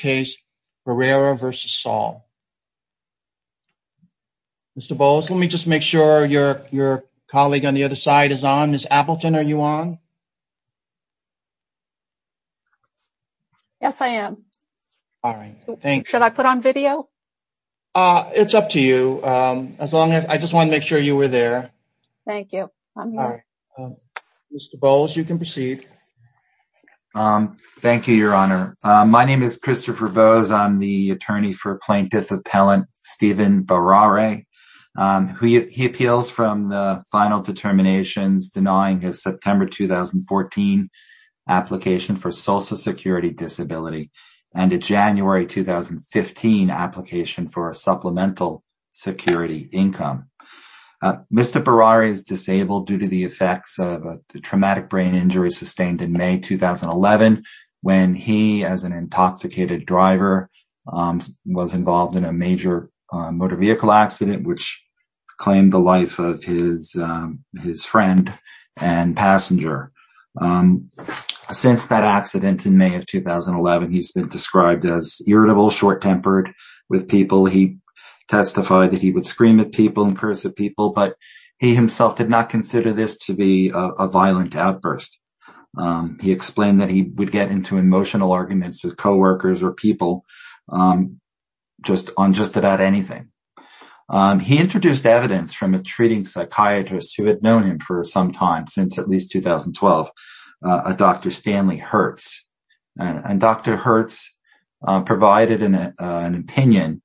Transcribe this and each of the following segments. Mr. Bowles, let me just make sure your colleague on the other side is on. Ms. Appleton, are you on? Yes, I am. Should I put on video? It's up to you. I just wanted to make sure you were there. Thank you. Mr. Bowles, you can proceed. Thank you, Your Honor. My name is Christopher Bowles. I'm the attorney for plaintiff appellant Stephen Barrere, who appeals from the final determinations denying his September 2014 application for social security disability and a January 2015 application for a supplemental security income. Mr. Barrere is disabled due to the effects of a traumatic brain injury sustained in May 2011, when he, as an intoxicated driver, was involved in a major motor vehicle accident, which claimed the life of his friend and passenger. Since that accident in May of 2011, he's been described as irritable, short-tempered with people. He testified that he would scream at people and curse at people, but he himself did not consider this to be a violent outburst. He explained that he would get into emotional arguments with co-workers or people on just about anything. He introduced evidence from a treating psychiatrist who had known him for some time, since at least 2012, Dr. Stanley Hertz. And Dr. Hertz provided an opinion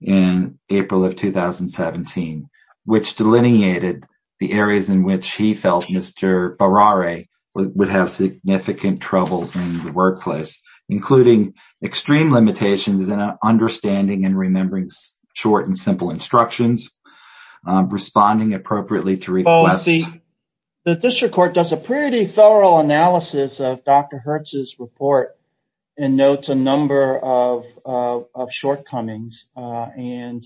in April of 2017, which delineated the areas in which he felt Mr. Barrere would have significant trouble in the workplace, including extreme limitations in understanding and remembering short and simple instructions, responding appropriately to requests. The district court does a pretty thorough analysis of Dr. Hertz's report and notes a number of shortcomings and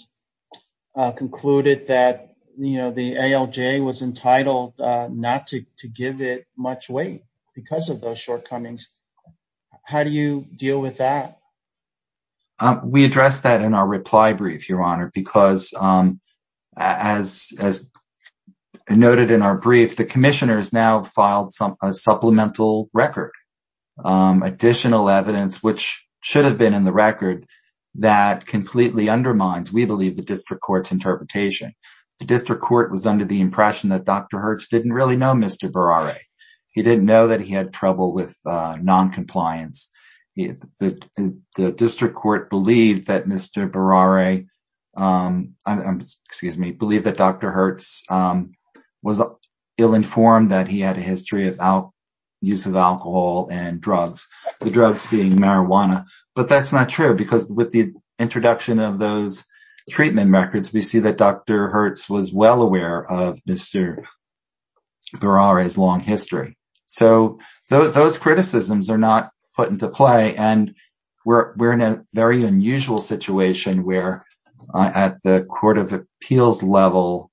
concluded that the ALJ was entitled not to give it much weight because of those shortcomings. How do you deal with that? We address that in our reply brief, Your Honor, because as noted in our brief, the commissioners now filed a supplemental record, additional evidence, which should have been in the record, that completely undermines, we believe, the district court's interpretation. The district court was under the impression that Dr. Hertz didn't really know Mr. Barrere. He didn't know he had trouble with noncompliance. The district court believed that Mr. Barrere, excuse me, believed that Dr. Hertz was ill-informed that he had a history of use of alcohol and drugs, the drugs being marijuana. But that's not true because with the introduction of those treatment records, we see that Dr. Hertz was well aware of Mr. Barrere's long history. Those criticisms are not put into play. We're in a very unusual situation where at the court of appeals level,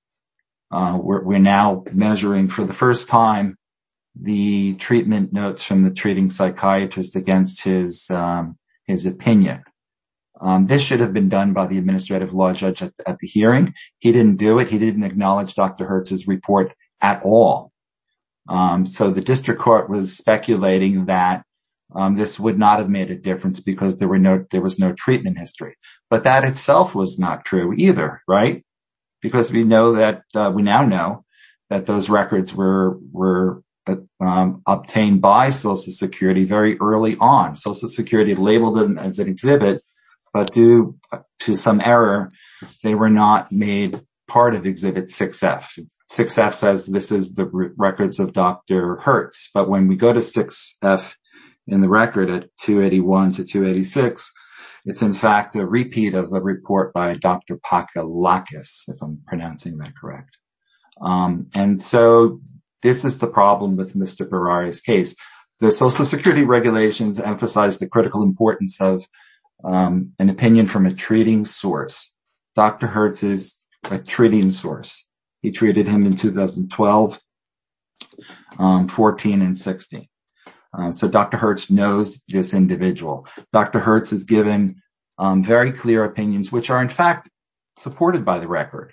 we're now measuring for the first time the treatment notes from the treating psychiatrist against his opinion. This should have been done by the administrative law judge at the hearing. He didn't do it. He didn't acknowledge Dr. Hertz's report at all. So the district court was speculating that this would not have made a difference because there was no treatment history. But that itself was not true either, right? Because we know that we now know that those records were obtained by Social Security very early on. Social Security labeled them as an exhibit, but due to some error, they were not made part of Exhibit 6F. 6F says this is the records of Dr. Hertz. But when we go to 6F in the record at 281 to 286, it's in fact a repeat of a report by Dr. Pakalakis, if I'm pronouncing that correct. And so this is the problem with Mr. Barrere's case. The Social Security regulations emphasize the critical importance of an opinion from a treating source. Dr. Hertz is a treating source. He treated him in 2012, 14, and 16. So Dr. Hertz knows this individual. Dr. Hertz has given very clear opinions, which are in fact supported by the record,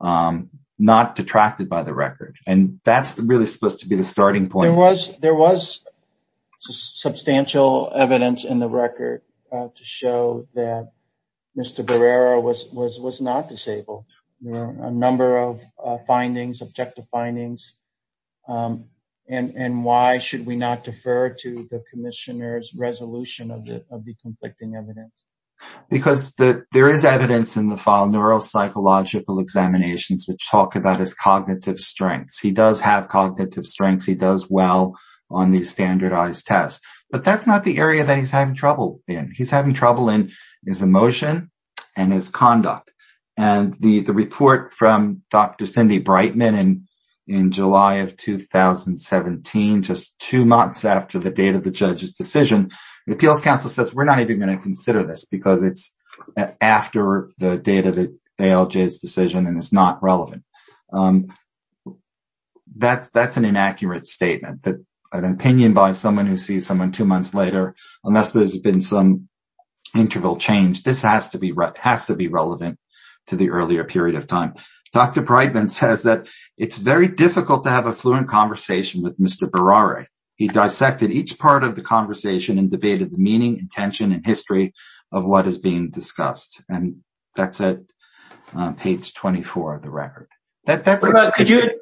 not detracted by the record. And that's really supposed to be the starting point. There was substantial evidence in the record to show that Mr. Barrere was not disabled. A number of findings, objective findings. And why should we not defer to the commissioner's resolution of the conflicting evidence? Because there is evidence in the file, neuropsychological examinations, which talk about his cognitive strengths. He does have cognitive strengths. He does well on these standardized tests. But that's not the area that he's having trouble in. He's having trouble in his emotion and his conduct. And the report from Dr. Cindy Brightman in July of 2017, just two months after the date of the judge's decision, the appeals counsel says, we're not even going to consider this because it's after the date of the ALJ's decision and it's not relevant. That's an inaccurate statement that an opinion by someone who sees someone two months later, unless there's been some interval change, this has to be relevant to the earlier period of time. Dr. Brightman says that it's very difficult to have a fluent conversation with Mr. Barrere. He dissected each part of the conversation and debated the meaning, intention, and history of what is being discussed. And that's at page 24 of the record. Could you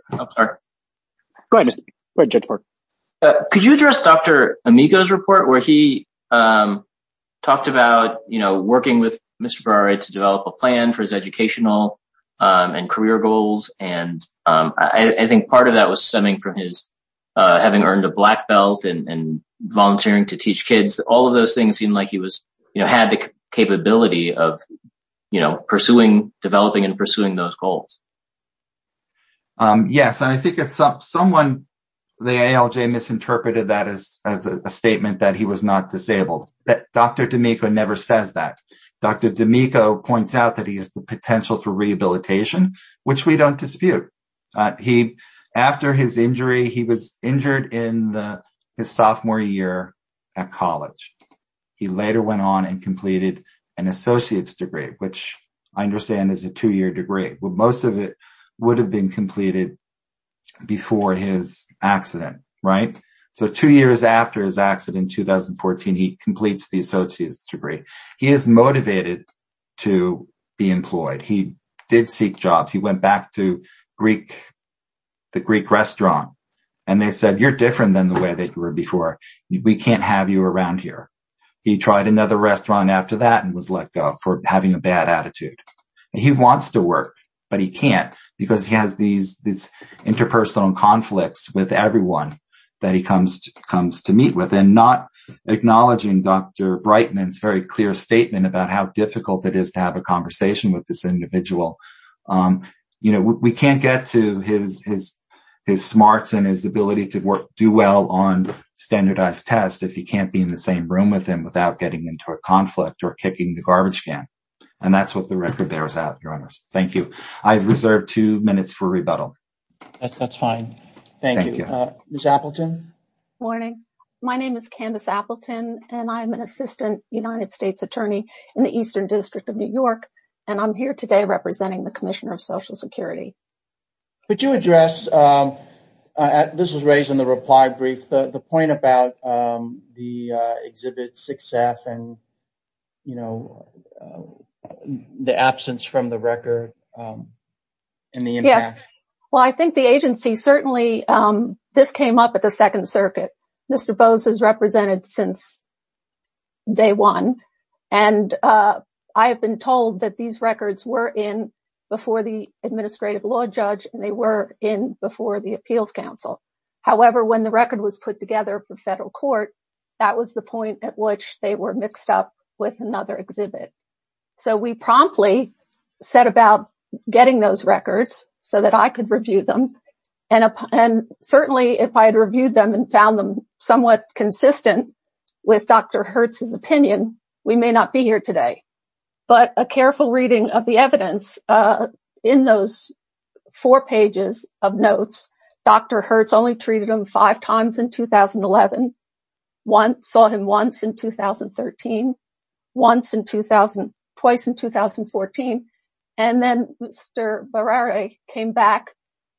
address Dr. Amigo's report, where he talked about working with Mr. Barrere to develop a plan for his educational and career goals. And I think part of that was stemming from his having earned a black belt and volunteering to teach kids. All of those things seemed like he had the capability of pursuing, developing, and pursuing those goals. Yes. And I think someone, the ALJ misinterpreted that as a statement that he was not disabled. Dr. D'Amico never says that. Dr. D'Amico points out that he has the potential for rehabilitation, which we don't dispute. After his injury, he was injured in his sophomore year at college. He later went on and completed an associate's degree, which I understand is a two-year degree. Well, most of it would have been completed before his accident, right? So two years after his accident in 2014, he completes the associate's degree. He is motivated to be employed. He did seek jobs. He went back to the Greek restaurant and they said, you're different than the way that you were before. We can't have you around here. He tried another restaurant after that and was let go for having a bad attitude. He wants to work, but he can't because he has these interpersonal conflicts with everyone that he comes to meet with. And not acknowledging Dr. Brightman's very clear statement about how difficult it is to have a conversation with this standardized test if you can't be in the same room with him without getting into a conflict or kicking the garbage can. And that's what the record bears out, Your Honors. Thank you. I've reserved two minutes for rebuttal. That's fine. Thank you. Ms. Appleton? Morning. My name is Candace Appleton and I'm an assistant United States attorney in the Eastern District of New York. And I'm here today representing the Commissioner of Social Security. Could you address, this was raised in the reply brief, the point about the Exhibit 6F and the absence from the record and the impact? Yes. Well, I think the agency certainly, this came up at the Second Circuit. Mr. Bowes has represented since day one. And I have been told that these records were in before the Administrative Law Judge and they were in before the Appeals Council. However, when the record was put together for federal court, that was the point at which they were mixed up with another exhibit. So we promptly set about getting those records so that I could review them. And certainly, if I had reviewed them and found them somewhat consistent with Dr. Hertz's opinion, we may not be here today. But a careful reading of the evidence in those four pages of notes, Dr. Hertz only treated him five times in 2011, saw him once in 2013, once in 2000, twice in 2014. And then Mr. Barrera came back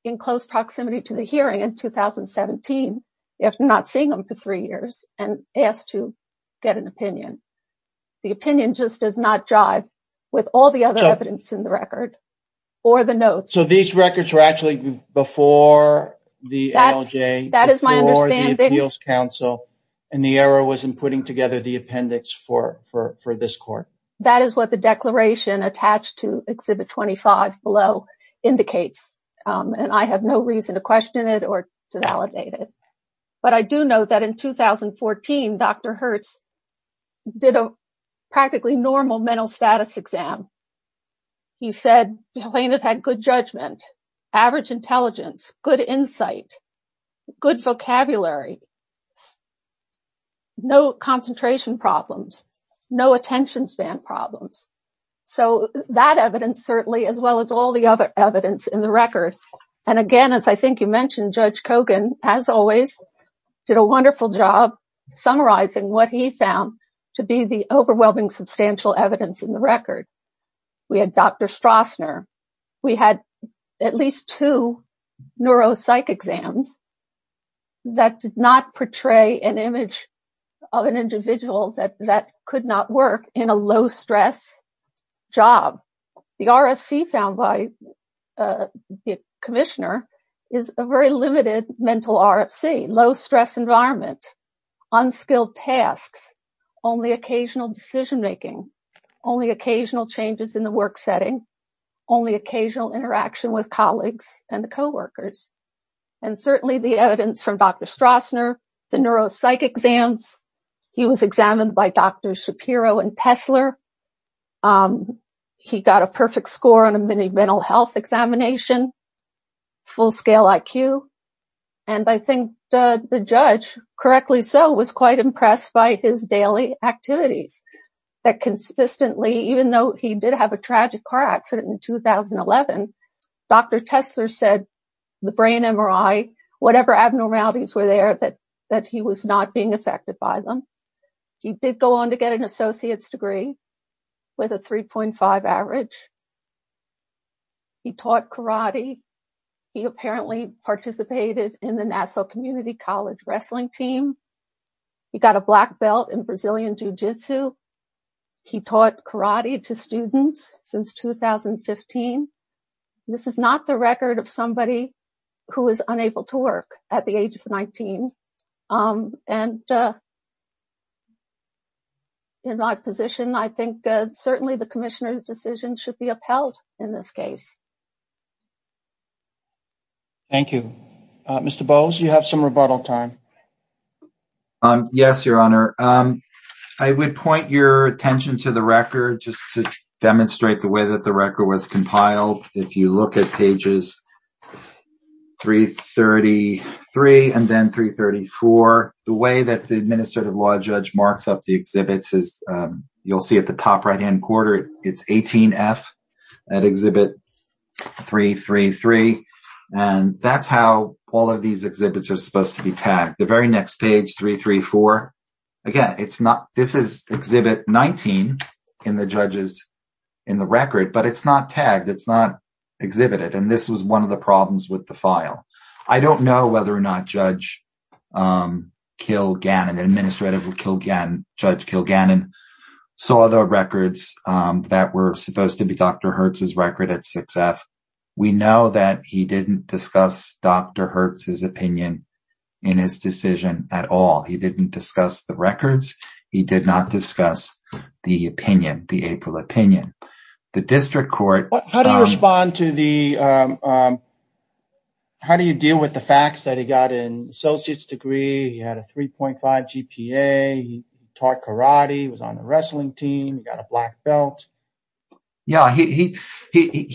in close proximity to the hearing in 2017, after not seeing him for three years, and asked to get an opinion. The opinion just does not jive with all the other evidence in the record or the notes. So these records were actually before the ALJ, before the Appeals Council, and the error was in putting together the appendix for this court? That is what the I have no reason to question it or to validate it. But I do know that in 2014, Dr. Hertz did a practically normal mental status exam. He said plaintiff had good judgment, average intelligence, good insight, good vocabulary, no concentration problems, no attention span problems. So that evidence certainly, as well as all the other evidence in the record. And again, as I think you mentioned, Judge Kogan, as always, did a wonderful job summarizing what he found to be the overwhelming substantial evidence in the record. We had Dr. Strassner, we had at least two neuropsych exams that did not portray an image of an individual that could not work in a low stress job. The RFC found by the commissioner is a very limited mental RFC, low stress environment, unskilled tasks, only occasional decision making, only occasional changes in the work setting, only occasional interaction with colleagues and the co-workers. And certainly the evidence from Dr. Strassner, the neuropsych exams, he was examined by Dr. Shapiro and Tesler. He got a perfect score on a mini mental health examination, full scale IQ. And I think the judge, correctly so, was quite impressed by his daily activities that consistently, even though he did a tragic car accident in 2011, Dr. Tesler said the brain MRI, whatever abnormalities were there, that he was not being affected by them. He did go on to get an associate's degree with a 3.5 average. He taught karate. He apparently participated in the Nassau Community College wrestling team. He got a black belt in Brazilian jiu-jitsu. He taught karate to students since 2015. This is not the record of somebody who was unable to work at the age of 19. And in my position, I think certainly the commissioner's decision should be upheld in this case. Thank you. Mr. Bowes, you have some rebuttal time. Yes, your honor. I would point your attention to the record just to demonstrate the way that the record was compiled. If you look at pages 333 and then 334, the way that the administrative law judge marks up the exhibits is, you'll see at the top right-hand corner, it's 18F at Exhibit 333. And that's how all of these exhibits are supposed to be tagged. The very next page, 334, again, this is Exhibit 19 in the record, but it's not tagged. It's not exhibited. And this was one of the problems with the file. I don't know whether or not Judge Kilgannon saw the records that were supposed to be Dr. Hertz's record at 6F. We know that he didn't discuss Dr. Hertz's opinion in his decision at all. He didn't discuss the records. He did not discuss the opinion, the April opinion. The district court- How do you deal with the facts that he got an brain injury? Yeah, he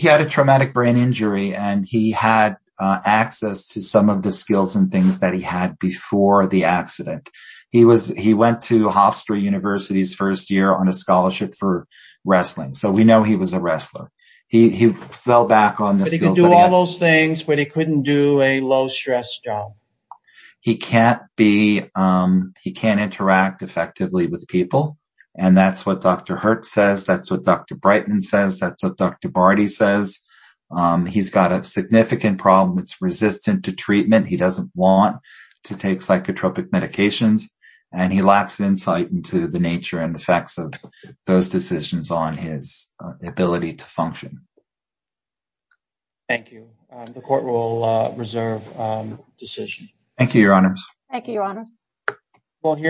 had a traumatic brain injury, and he had access to some of the skills and things that he had before the accident. He went to Hofstra University's first year on a scholarship for wrestling. So we know he was a wrestler. He fell back on the skills- But he could do all those things, but he couldn't do a low-stress job. He can't interact effectively with people. And that's what Dr. Hertz says. That's what Dr. Brighton says. That's what Dr. Barty says. He's got a significant problem. It's resistant to treatment. He doesn't want to take psychotropic medications, and he lacks insight into the nature and effects of those decisions on his ability to function. Thank you. The court will reserve decision. Thank you, Your Honors. Thank you, Your Honors.